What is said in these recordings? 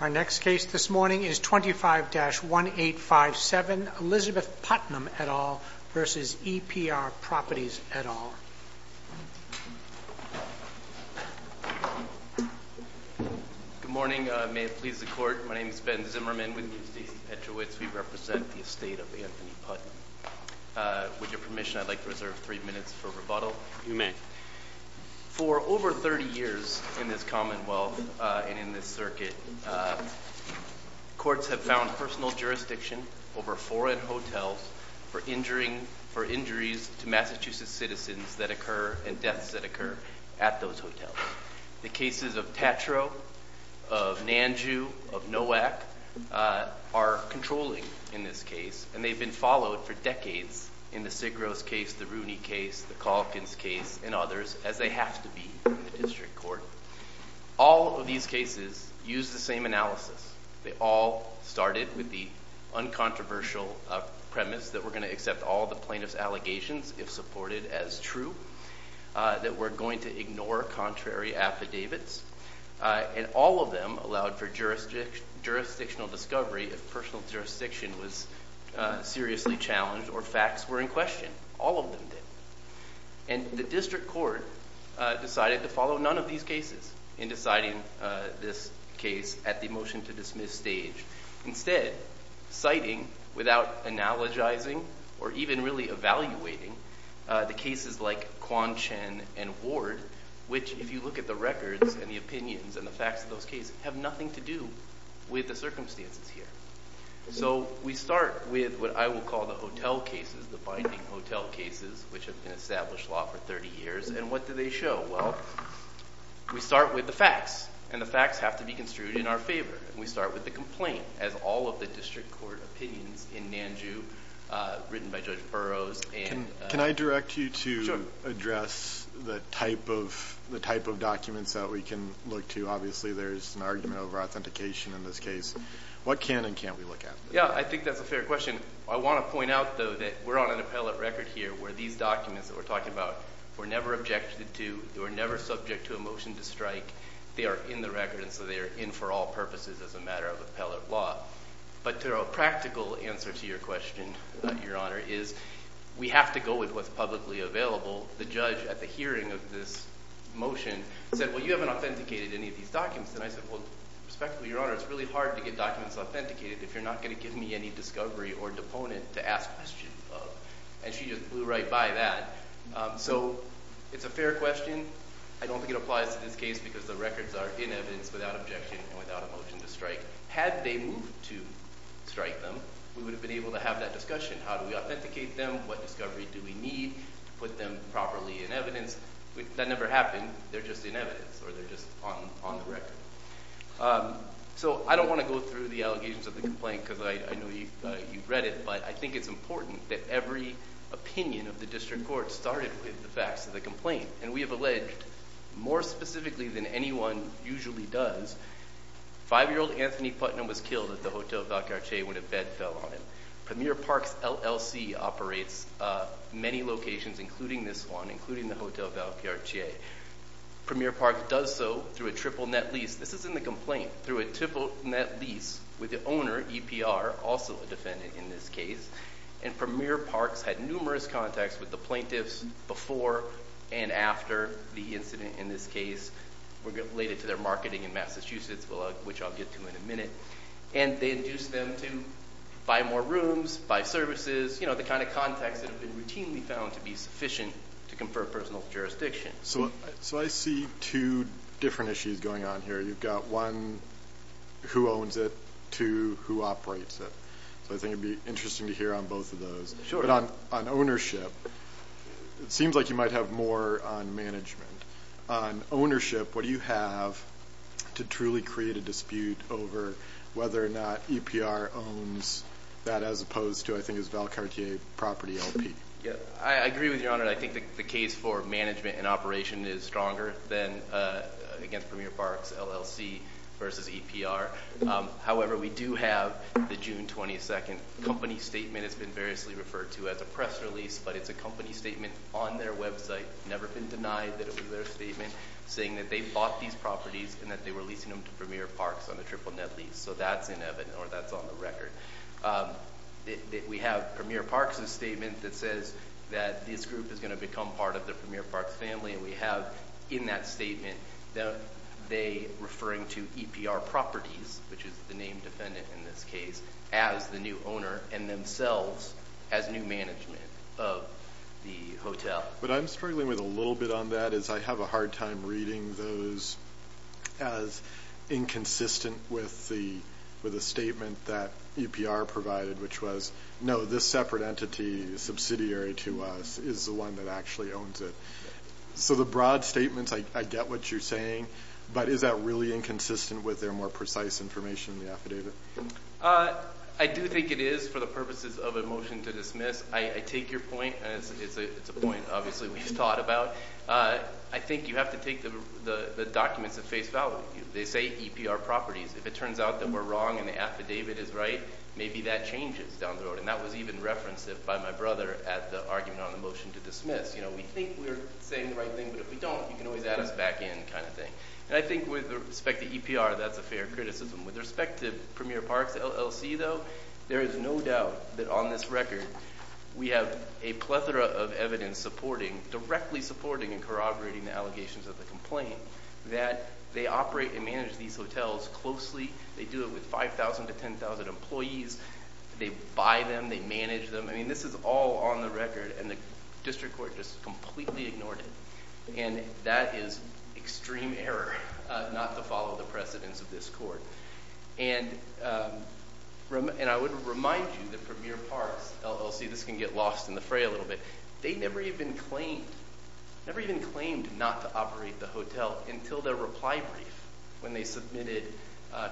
Our next case this morning is 25-1857, Elizabeth Putnam et al. v. EPR Properties et al. Good morning. May it please the court. My name is Ben Zimmerman, with Stacey Petrowitz. We represent the estate of Anthony Putnam. With your permission, I'd like to reserve three minutes for rebuttal. You may. For over 30 years in this commonwealth and in this circuit, courts have found personal jurisdiction over 4N hotels for injuries to Massachusetts citizens that occur and deaths that occur at those hotels. The cases of Tatro, of Nanju, of Nowak are controlling in this case, and they've been followed for decades in the Sigros case, the Rooney case, the Calkins case, and others as they have to be in the district court. All of these cases use the same analysis. They all started with the uncontroversial premise that we're going to accept all the plaintiff's allegations, if supported as true, that we're going to ignore contrary affidavits, and all of them allowed for jurisdictional discovery if personal jurisdiction was seriously challenged or facts were in question. All of them did. And the district court decided to follow none of these cases in deciding this case at the motion to dismiss stage. Instead, citing without analogizing or even really evaluating the cases like Quan Chen and Ward, which, if you look at the records and the opinions and the facts of those cases, have nothing to do with the circumstances here. So we start with what I will call the hotel cases, the binding hotel cases, which have been established law for 30 years. And what do they show? Well, we start with the facts, and the facts have to be construed in our favor. And we start with the complaint as all of the district court opinions in NANJU, written by Judge Burroughs. Can I direct you to address the type of documents that we can look to? Obviously, there's an argument over authentication in this case. What can and can't we look at? Yeah, I think that's a fair question. I want to point out, though, that we're on an appellate record here where these documents that we're talking about were never objected to, they were never subject to a motion to strike. They are in the record, and so they are in for all purposes as a matter of appellate law. But to a practical answer to your question, Your Honor, is we have to go with what's publicly available. The judge, at the hearing of this motion, said, well, you haven't authenticated any of these documents. And I said, well, respectfully, Your Honor, it's really hard to get documents authenticated if you're not going to give me any discovery or deponent to ask questions of. And she just blew right by that. So it's a fair question. I don't think it applies to this case because the records are in evidence without objection and without a motion to strike. Had they moved to strike them, we would have been able to have that discussion. How do we authenticate them? What discovery do we need to put them properly in evidence? That never happened. They're just in evidence or they're just on the record. So I don't want to go through the allegations of the complaint because I know you've read it, but I think it's important that every opinion of the District Court started with the facts of the complaint. And we have alleged, more specifically than anyone usually does, five-year-old Anthony Putnam was killed at the Hotel Valpiarchie when a bed fell on him. Premier Parks LLC operates many locations, including this one, including the Hotel Valpiarchie. Premier Parks does so through a triple net lease. This is in the complaint, through a triple net lease with the owner, EPR, also a defendant in this case, and Premier Parks had numerous contacts with the plaintiffs before and after the incident in this case related to their marketing in Massachusetts, which I'll get to in a minute. And they induced them to buy more rooms, buy services, you know, the kind of contacts that have been routinely found to be sufficient to confer personal jurisdiction. So I see two different issues going on here. You've got one, who owns it, two, who operates it. So I think it'd be interesting to hear on both of those. But on ownership, it seems like you might have more on management. On ownership, what do you have to truly create a dispute over whether or not EPR owns that as opposed to, I think, as Valpiarchie Property, LP? Yeah, I agree with Your Honor. I think the case for management and operation is stronger than against Premier Parks, LLC versus EPR. However, we do have the June 22nd company statement. It's been variously referred to as a press release, but it's a company statement on their website, never been denied that it was their statement, saying that they bought these properties and that they were leasing them to Premier Parks on the triple net lease. So that's in evidence, or that's on the record. We have Premier Parks' statement that says that this group is going to become part of the Premier Parks family, and we have in that statement that they referring to EPR properties, which is the name defendant in this case, as the new owner and themselves as new management of the hotel. What I'm struggling with a little bit on that is I have a hard time reading those as inconsistent with the statement that EPR provided, which was, no, this separate entity subsidiary to us is the one that actually owns it. So the broad statements, I get what you're saying, but is that really inconsistent with their more precise information in the affidavit? I do think it is for the purposes of a motion to dismiss. I take your point, and it's a point obviously we've thought about. I think you have to take the documents at face value. They say EPR properties. If it turns out that we're wrong and the affidavit is right, maybe that changes down the road. And that was even referenced by my brother at the argument on the motion to dismiss. You know, we think we're saying the right thing, but if we don't, you can always add us back in kind of thing. And I think with respect to EPR, that's a fair criticism. With respect to Premier Parks LLC though, there is no doubt that on this record, we have a plethora of evidence directly supporting and corroborating the allegations of the complaint that they operate and manage these hotels closely. They do it with 5,000 to 10,000 employees. They buy them. They manage them. I mean, this is all on the record and the district court just completely ignored it. And that is extreme error not to follow the precedents of this court. And I would remind you that Premier Parks LLC, this can get lost in the fray a little bit, they never even claimed, never even claimed not to operate the hotel until their reply brief when they submitted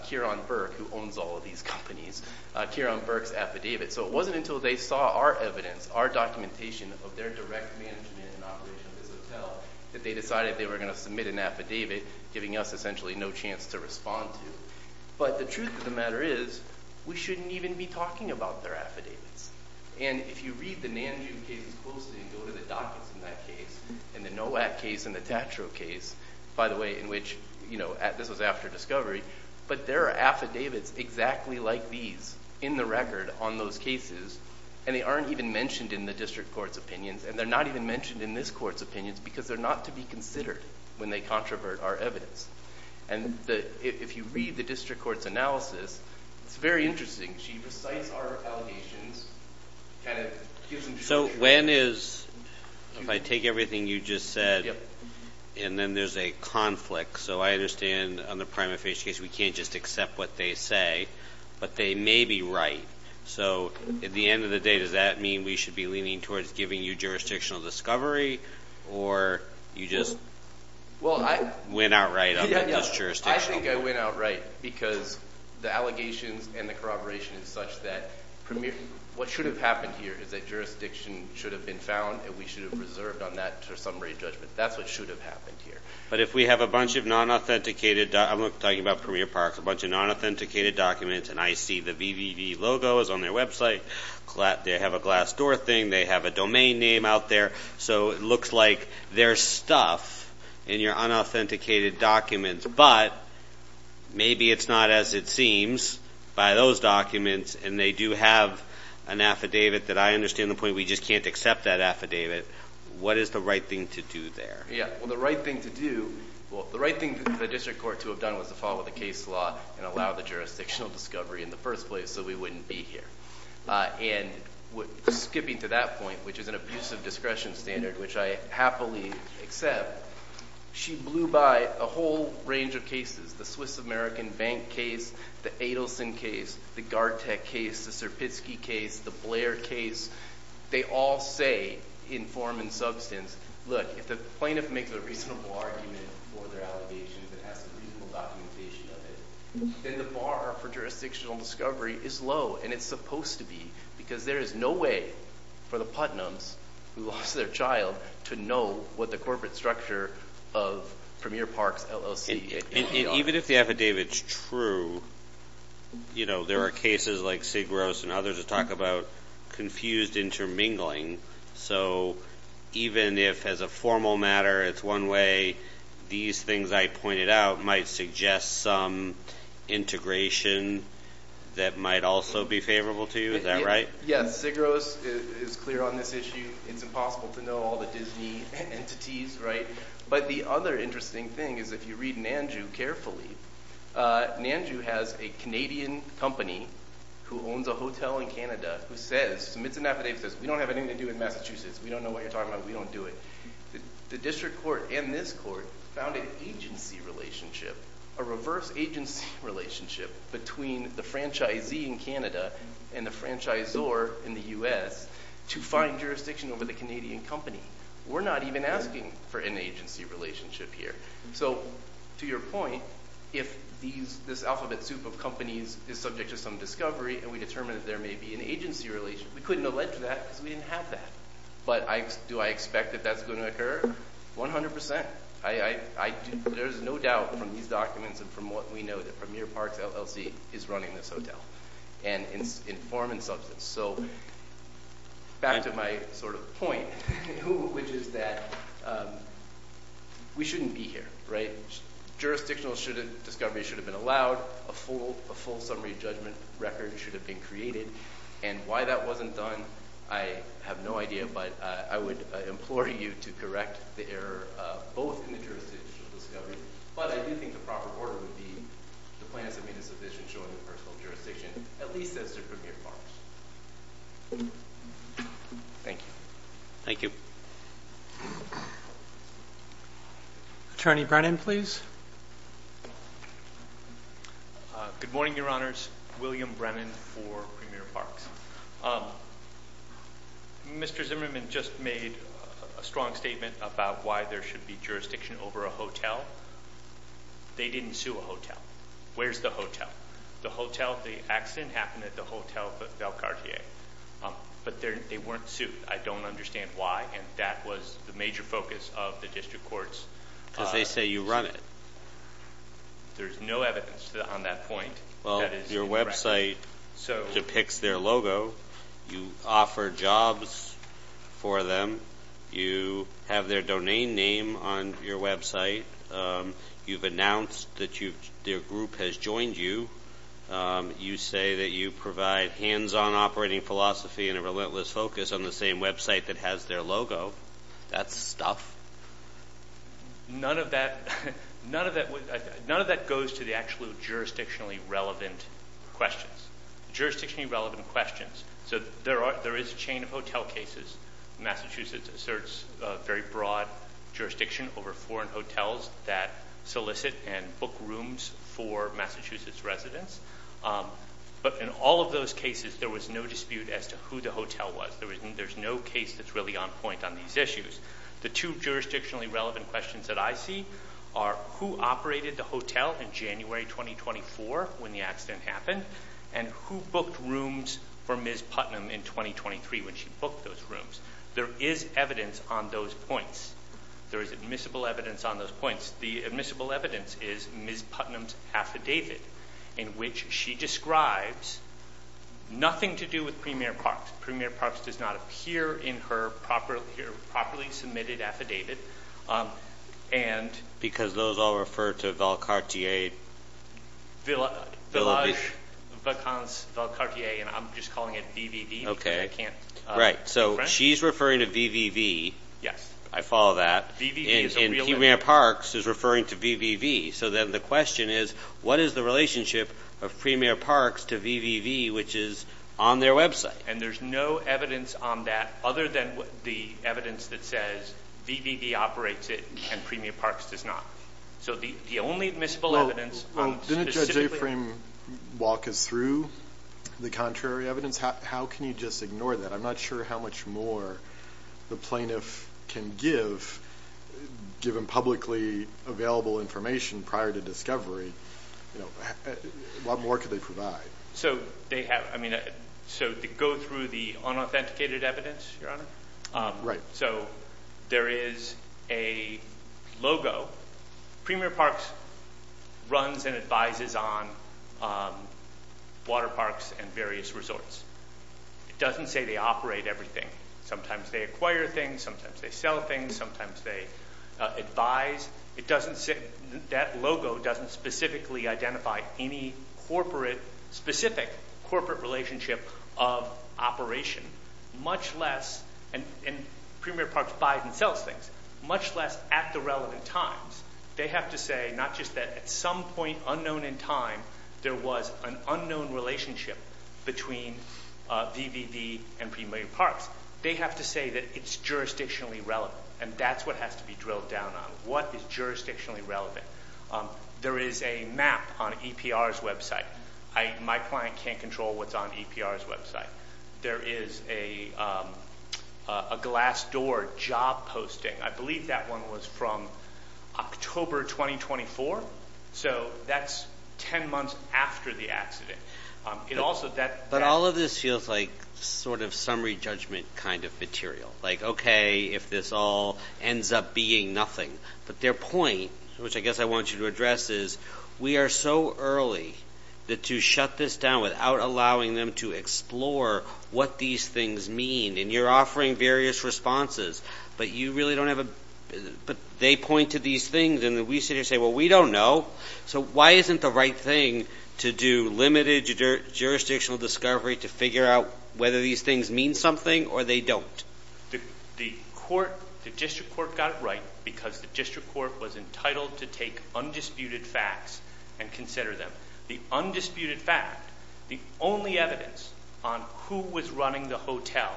Kieron Burke, who owns all of these companies, Kieron Burke's affidavit. So it wasn't until they saw our evidence, our documentation of their direct management and operation of this hotel, that they decided they were going to submit an affidavit, giving us essentially no chance to respond to. But the truth of the matter is, we shouldn't even be talking about their affidavits. And if you read the Nanju cases closely and go to the dockets in that case and the NOAC case and the Tatro case, by the way, in which, you know, this was after discovery, but there are affidavits exactly like these in the record on those cases and they aren't even mentioned in the district court's opinions and they're not even mentioned in this court's opinions because they're not to be considered when they controvert our evidence. And if you read the district court's analysis, it's very interesting. She recites our allegations, kind of gives them... So when is, if I take everything you just said, and then there's a conflict. So I understand on the prime official case, we can't just accept what they say, but they may be right. So at the end of the day, does that mean we should be leaning towards giving you jurisdictional discovery or you just... Well, I... Went out right on this jurisdiction. I think I went out right because the allegations and the corroboration is such that Premier... What should have happened here is that jurisdiction should have been found and we should have reserved on that for summary judgment. That's what should have happened here. But if we have a bunch of non-authenticated, I'm not talking about Premier Parks, a bunch of non-authenticated documents and I see the VVV logo is on their website, they have a glass door thing, they have a domain name out there. So it looks like there's stuff in your unauthenticated documents, but maybe it's not as it seems by those documents and they do have an affidavit that I understand the point, we just can't accept that affidavit. What is the right thing to do there? Yeah, well, the right thing to do, well, the right thing the district court to have done was to follow the case law and allow the jurisdictional discovery in the first place so we wouldn't be here. And skipping to that point, which is an abusive discretion standard, which I happily accept, she blew by a whole range of cases, the Swiss American Bank case, the Adelson case, the Gartec case, the Serpitsky case, the Blair case. They all say in form and substance, look, if the plaintiff makes a reasonable argument for their allegations and has a reasonable documentation of it, then the bar for jurisdictional discovery is low and it's supposed to be because there is no way for the Putnams, who lost their child, to know what the corporate structure of Premier Parks LLC is. Even if the affidavit's true, you know, there are cases like Segros and others that talk about confused intermingling. So even if as a formal matter, it's one way, these things I pointed out might suggest some integration that might also be favorable to you. Is that right? Yes. Segros is clear on this issue. It's impossible to know all the Disney entities, right? But the other interesting thing is if you read NANJU carefully, NANJU has a Canadian company who owns a hotel in Canada who says, submits an affidavit that says, we don't have anything to do in Massachusetts. We don't know what you're talking about. We don't do it. The district court and this court founded agency relationship, a reverse agency relationship between the franchisee in Canada and the franchisor in the US to find jurisdiction over the Canadian company. We're not even asking for an agency relationship here. So to your point, if this alphabet soup of companies is subject to some discovery and we determine that there may be an agency relation, we couldn't allege that because we didn't have that. But do I expect that that's going to occur? 100%. There's no doubt from these documents and from what we know that Premier Parks LLC is running this hotel and in form and substance. So back to my sort of point, which is that we shouldn't be here, right? Jurisdictional discovery should have been allowed. A full summary judgment record should have been created and why that wasn't done. I have no idea, but I would implore you to correct the error of both in the jurisdictional discovery, but I do think the proper order would be the plaintiffs have made a submission showing the personal jurisdiction at least as to Premier Parks. Thank you. Thank you. Attorney Brennan, please. Good morning, Your Honors. William Brennan for Premier Parks. Mr. Zimmerman just made a strong statement about why there should be jurisdiction over a hotel. They didn't sue a hotel. Where's the hotel? The hotel, the accident happened at the Hotel Del Cartier, but they weren't sued. I don't understand why and that was the major focus of the district courts. Because they say you run it. There's no evidence on that point. Well, your website depicts their logo. You offer jobs for them. You have their domain name on your website. You've announced that their group has joined you. You say that you provide hands-on operating philosophy and a relentless focus on the same website that has their logo. That's stuff. None of that goes to the actual jurisdictionally relevant questions. So there is a chain of hotel cases. Massachusetts asserts very broad jurisdiction over foreign hotels that solicit and book rooms for Massachusetts residents. But in all of those cases, there was no dispute as to who the hotel was. There's no case that's really on point on these issues. The two jurisdictionally relevant questions that I see are who operated the hotel in January 2024 when the accident happened and who booked rooms for Ms. Putnam in 2023 when she booked those rooms. There is evidence on those points. There is admissible evidence on those points. The admissible evidence is Ms. Putnam's affidavit in which she describes nothing to do with Premier Parks. Premier Parks does not appear in her properly submitted affidavit. Because those all refer to Valcartier Village? Valcartier, and I'm just calling it VVV because I can't pronounce it. So she's referring to VVV. Yes. I follow that. VVV is a real name. And Premier Parks is referring to VVV. So then the question is, what is the relationship of Premier Parks to VVV which is on their website? And there's no evidence on that other than the evidence that says VVV operates it and Premier Parks does not. So the only admissible evidence on specifically... If the frame walk is through the contrary evidence, how can you just ignore that? I'm not sure how much more the plaintiff can give given publicly available information prior to discovery. What more could they provide? So they have... I mean, so to go through the unauthenticated evidence, Your Honor? Right. So there is a logo. Premier Parks runs and advises on water parks and various resorts. It doesn't say they operate everything. Sometimes they acquire things. Sometimes they sell things. Sometimes they advise. It doesn't say... That logo doesn't specifically identify any corporate... specific corporate relationship of operation much less... And Premier Parks buys and sells things much less at the relevant times. They have to say not just that at some point unknown in time there was an unknown relationship between VVV and Premier Parks. They have to say that it's jurisdictionally relevant. And that's what has to be drilled down on. What is jurisdictionally relevant? There is a map on EPR's website. My client can't control what's on EPR's website. There is a glass door job posting. I believe that one was from October 2024. So that's 10 months after the accident. It also... But all of this feels like sort of summary judgment kind of material. Like, okay, if this all ends up being nothing. But their point, which I guess I want you to address is we are so early that to shut this down without allowing them to explore what these things mean. And you're offering various responses. But you really don't have a... But they point to these things and we sit here and say, well, we don't know. So why isn't the right thing to do limited jurisdictional discovery to figure out whether these things mean something or they don't? The court, the district court got it right because the district court was entitled to take undisputed facts and consider them. The undisputed fact, the only evidence on who was running the hotel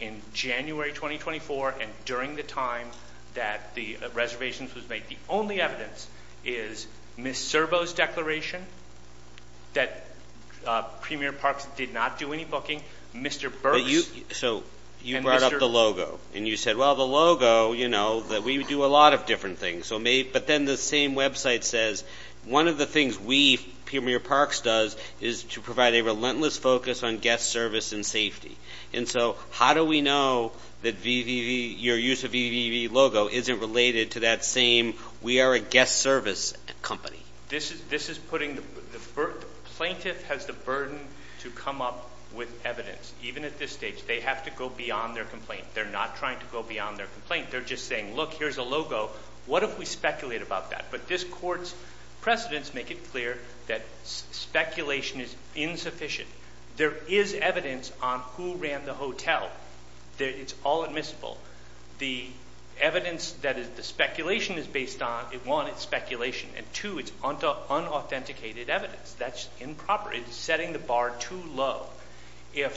in January 2024 and during the time that the reservations was made, the only evidence is Ms. Serbo's declaration that Premier Parks did not do any booking. Mr. Burks... So you brought up the logo. And you said, well, the logo, you know, that we do a lot of different things. But then the same website says, one of the things we, Premier Parks, does is to provide a relentless focus on guest service and safety. And so how do we know that your use of VVVV logo isn't related to that same, we are a guest service company? This is putting... The plaintiff has the burden to come up with evidence. Even at this stage, they have to go beyond their complaint. They're not trying to go beyond their complaint. They're just saying, look, here's a logo. What if we speculate about that? But this court's precedents make it clear that speculation is insufficient. There is evidence on who ran the hotel. It's all admissible. The evidence that the speculation is based on, one, it's speculation. And two, it's unauthenticated evidence. That's improper. It's setting the bar too low. If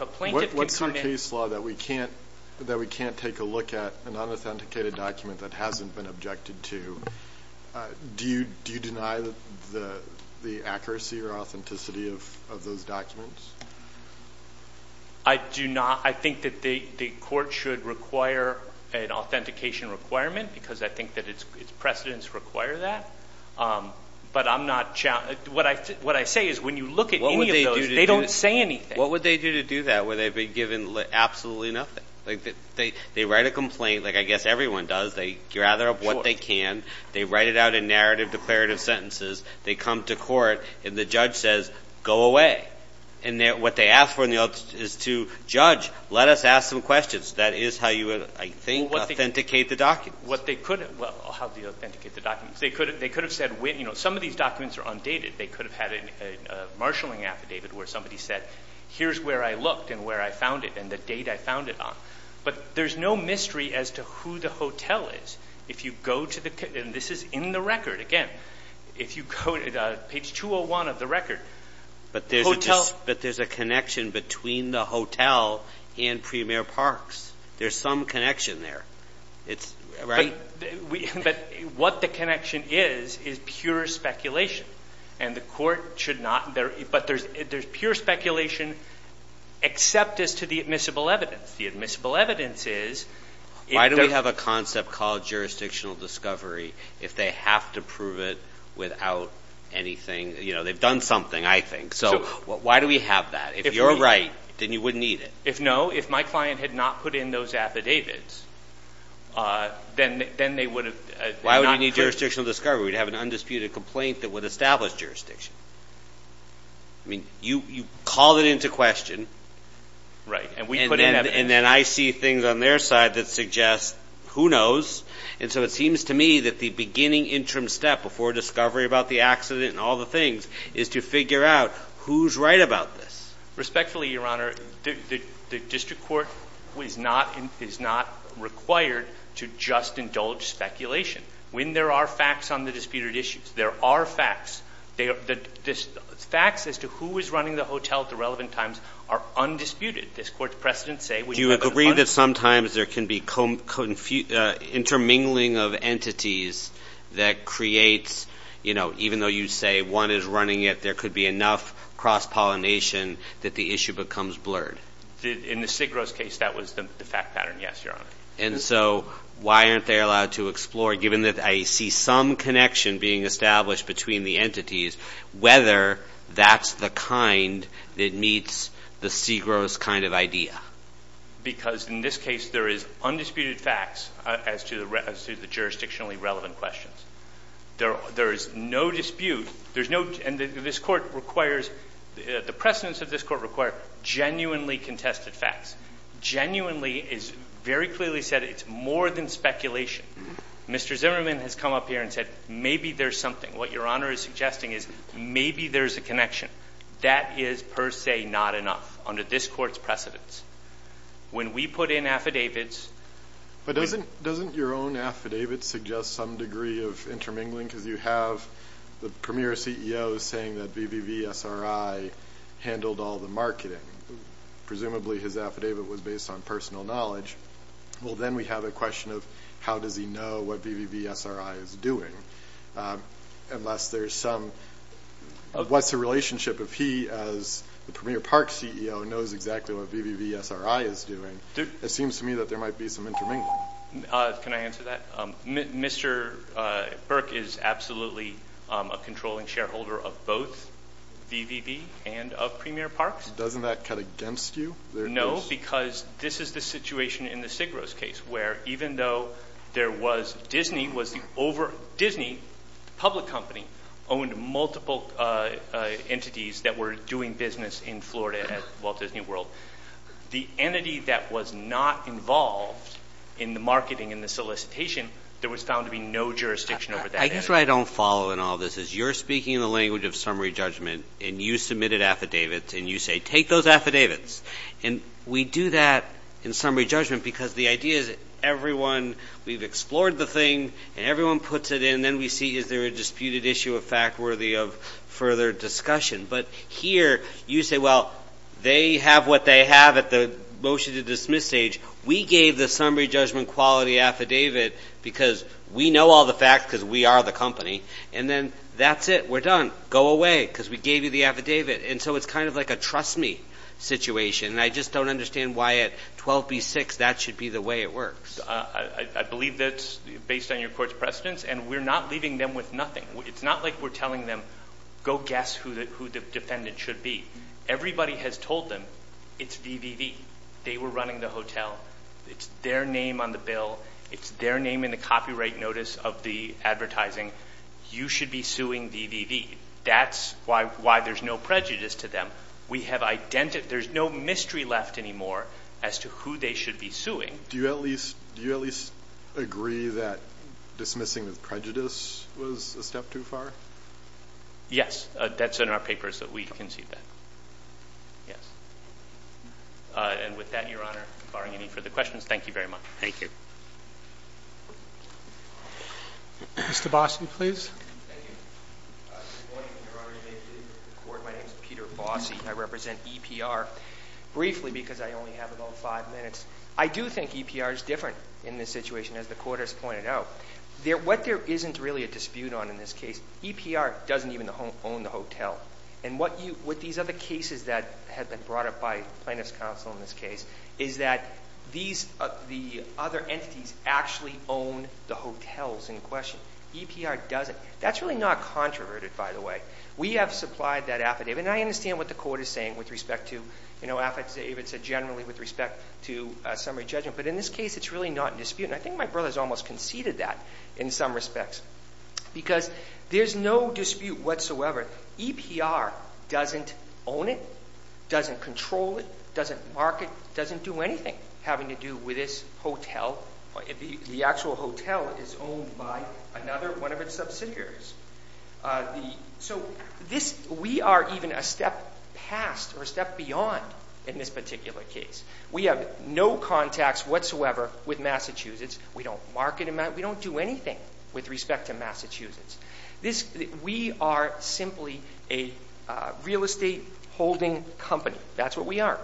a plaintiff can come in... What's your case law that we can't take a look at an unauthenticated document that hasn't been objected to? Do you deny the accuracy or authenticity of those documents? I do not. I think that the court should require an authentication requirement because I think that its precedents require that. But I'm not... What I say is when you look at any of those, they don't say anything. What would they do to do that where they've been given absolutely nothing? They write a complaint like I guess everyone does. They gather up what they can. They write it out in narrative declarative sentences. They come to court and the judge says, go away. And what they ask for is to, judge, let us ask some questions. That is how you, I think, authenticate the documents. Well, how do you authenticate the documents? They could have said... Some of these documents are undated. They could have had a marshalling affidavit where somebody said, here's where I looked and where I found it and the date I found it on. But there's no mystery as to who the hotel is. If you go to the... And this is in the record. Again, if you go to page 201 of the record... But there's a connection between the hotel and Premier Parks. There's some connection there. It's... But what the connection is, is pure speculation. And the court should not... But there's pure speculation except as to the admissible evidence. The admissible evidence is... Why do we have a concept called jurisdictional discovery if they have to prove it without anything? You know, they've done something, I think. So, why do we have that? If you're right, then you wouldn't need it. If no, if my client had not put in those affidavits, then they would have... Why would you need jurisdictional discovery? We'd have an undisputed complaint that would establish jurisdiction. I mean, you called it into question. Right. And we put in evidence. And then I see things on their side that suggest, who knows? And so it seems to me that the beginning interim step before discovery about the accident and all the things is to figure out who's right about this. Respectfully, Your Honor, the district court is not required to just indulge speculation. When there are facts on the disputed issues, there are facts. The facts as to who is running the hotel at the relevant times are undisputed. This court's precedents say... Do you agree that sometimes there can be intermingling of entities that creates, you know, even though you say one is running it, there could be enough cross-pollination that the issue becomes blurred? In the Sigros case, that was the fact pattern, yes, Your Honor. And so why aren't they allowed to explore, given that I see some connection being established between the entities, whether that's the kind that meets the Sigros kind of idea? Because in this case, there is undisputed facts as to the jurisdictionally relevant questions. There is no dispute. There's no... And this court requires... The precedents of this court require genuinely contested facts. Genuinely is very clearly said it's more than speculation. Mr. Zimmerman has come up here and said, maybe there's something. What Your Honor is suggesting is maybe there's a connection. That is per se not enough under this court's precedents. When we put in affidavits... But doesn't your own affidavit suggest some degree of intermingling? Because you have the premier CEO saying that VVVSRI handled all the marketing. Presumably his affidavit was based on personal knowledge. Well, then we have a question of how does he know what VVVSRI is doing? Unless there's some... What's the relationship if he, as the premier park CEO, knows exactly what VVVSRI is doing? It seems to me that there might be some intermingling. Can I answer that? Mr. Burke is absolutely a controlling shareholder of both VVV and of premier parks. Doesn't that cut against you? No, because this is the situation in the Sigros case where even though there was... Disney was the over... Disney, the public company, owned multiple entities that were doing business in Florida at Walt Disney World. The entity that was not involved in the marketing and the solicitation, there was found to be no jurisdiction over that entity. I guess what I don't follow in all this is you're speaking in the language of summary judgment and you submitted affidavits and you say, take those affidavits. And we do that in summary judgment because the idea is everyone... We've explored the thing and everyone puts it in. Then we see, is there a disputed issue of fact worthy of further discussion? But here, you say, well, they have what they have at the motion to dismiss stage. We gave the summary judgment quality affidavit because we know all the facts because we are the company. And then that's it. We're done. Go away because we gave you the affidavit. And so it's kind of like a trust me situation. And I just don't understand why at 12B6 that should be the way it works. I believe that's based on your court's precedence and we're not leaving them with nothing. It's not like we're telling them, go guess who the defendant should be. Everybody has told them it's VVV. They were running the hotel. It's their name on the bill. It's their name in the copyright notice of the advertising. You should be suing VVV. That's why there's no prejudice to them. We have identified... There's no mystery left anymore as to who they should be suing. Do you at least agree that dismissing with prejudice was a step too far? Yes. That's in our papers that we concede that. Yes. And with that, Your Honor, barring any further questions, thank you very much. Thank you. Mr. Bossi, please. Thank you. Good morning, Your Honor. My name is Peter Bossi. I represent EPR. Briefly, because I only have about five minutes, I do think EPR is different in this situation, as the court has pointed out. What there isn't really a dispute on in this case, EPR doesn't even own the hotel. And what these other cases that have been brought up by plaintiff's counsel in this case is that the other entities actually own the hotels in question. EPR doesn't. That's really not controverted, by the way. We have supplied that affidavit. And I understand what the court is saying with respect to affidavits generally with respect to summary judgment. But in this case, it's really not in dispute. And I think my brother has almost conceded that in some respects. Because there's no dispute whatsoever. EPR doesn't own it, doesn't control it, doesn't market, doesn't do anything having to do with this hotel. The actual hotel is owned by another one of its subsidiaries. So we are even a step past or a step beyond in this particular case. We have no contacts whatsoever with Massachusetts. We don't market in Massachusetts. We don't do anything with respect to Massachusetts. We are simply a real estate holding company. That's what we are.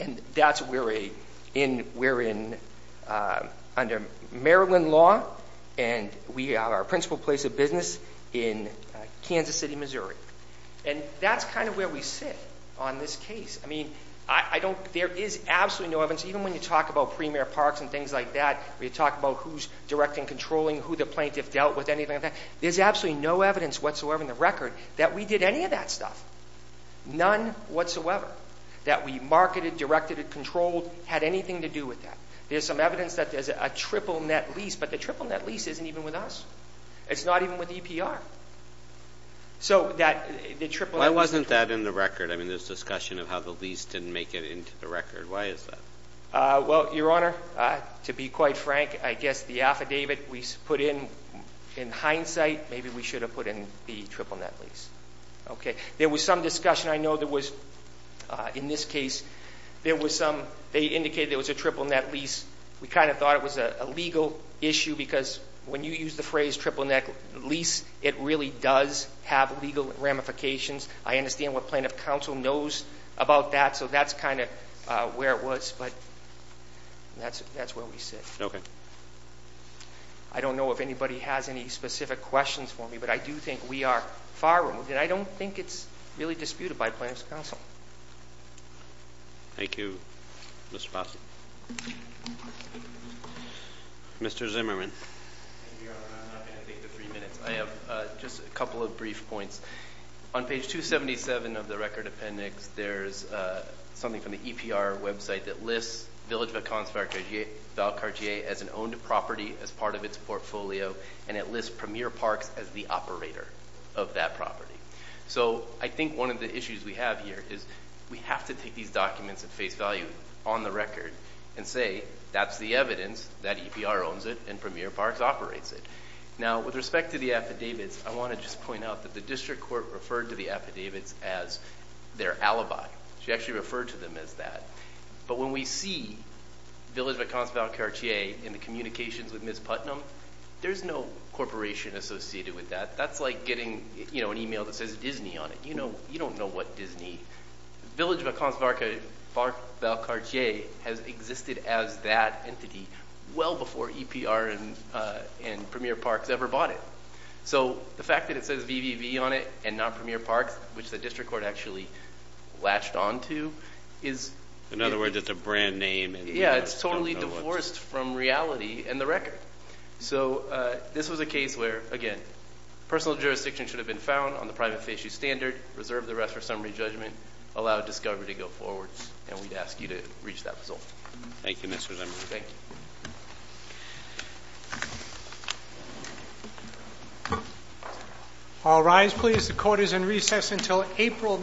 And that's where we're in under Maryland law. And we are a principal place of business in Kansas City, Missouri. And that's kind of where we sit on this case. I mean, there is absolutely no evidence. Even when you talk about Premier Parks and things like that, or you talk about who's directing and controlling, who the plaintiff dealt with, anything like that, there's absolutely no evidence whatsoever in the record that we did any of that stuff. None whatsoever. That we marketed, directed, and controlled had anything to do with that. There's some evidence that there's a triple net lease. But the triple net lease isn't even with us. It's not even with EPR. So that the triple net lease- Why wasn't that in the record? I mean, there's discussion of how the lease didn't make it into the record. Why is that? Well, Your Honor, to be quite frank, I guess the affidavit we put in, in hindsight, maybe we should have put in the triple net lease. OK. There was some discussion. I know there was, in this case, there was some, they indicated there was a triple net lease. We kind of thought it was a legal issue, because when you use the phrase triple net lease, it really does have legal ramifications. I understand what plaintiff counsel knows about that. So that's kind of where it was. But that's where we sit. OK. I don't know if anybody has any specific questions for me. But I do think we are far removed. And I don't think it's really disputed by plaintiff's counsel. Thank you, Mr. Posse. Mr. Zimmerman. Thank you, Your Honor. I'm not going to take the three minutes. I have just a couple of brief points. On page 277 of the record appendix, there's something from the EPR website that lists Village of Akans Valcarje as an owned property as part of its portfolio. And it lists Premier Parks as the operator of that property. So I think one of the issues we have here is we have to take these documents at face value on the record and say, that's the evidence that EPR owns it and Premier Parks operates it. Now, with respect to the affidavits, I want to just point out that the district court referred to the affidavits as their alibi. She actually referred to them as that. But when we see Village of Akans Valcarje in the communications with Ms. Putnam, there's no corporation associated with that. That's like getting an email that says Disney on it. You don't know what Disney. Village of Akans Valcarje has existed as that entity well before EPR and Premier Parks ever bought it. So the fact that it says VVV on it and not Premier Parks, which the district court actually latched onto, is- In other words, it's a brand name. Yeah, it's totally divorced from reality and the record. So this was a case where, again, personal jurisdiction should have been found on the private facie standard, reserve the rest for summary judgment, allow discovery to go forward, and we'd ask you to reach that result. Thank you, Mr. Zimmerman. Thank you. All rise, please. The court is in recess until April-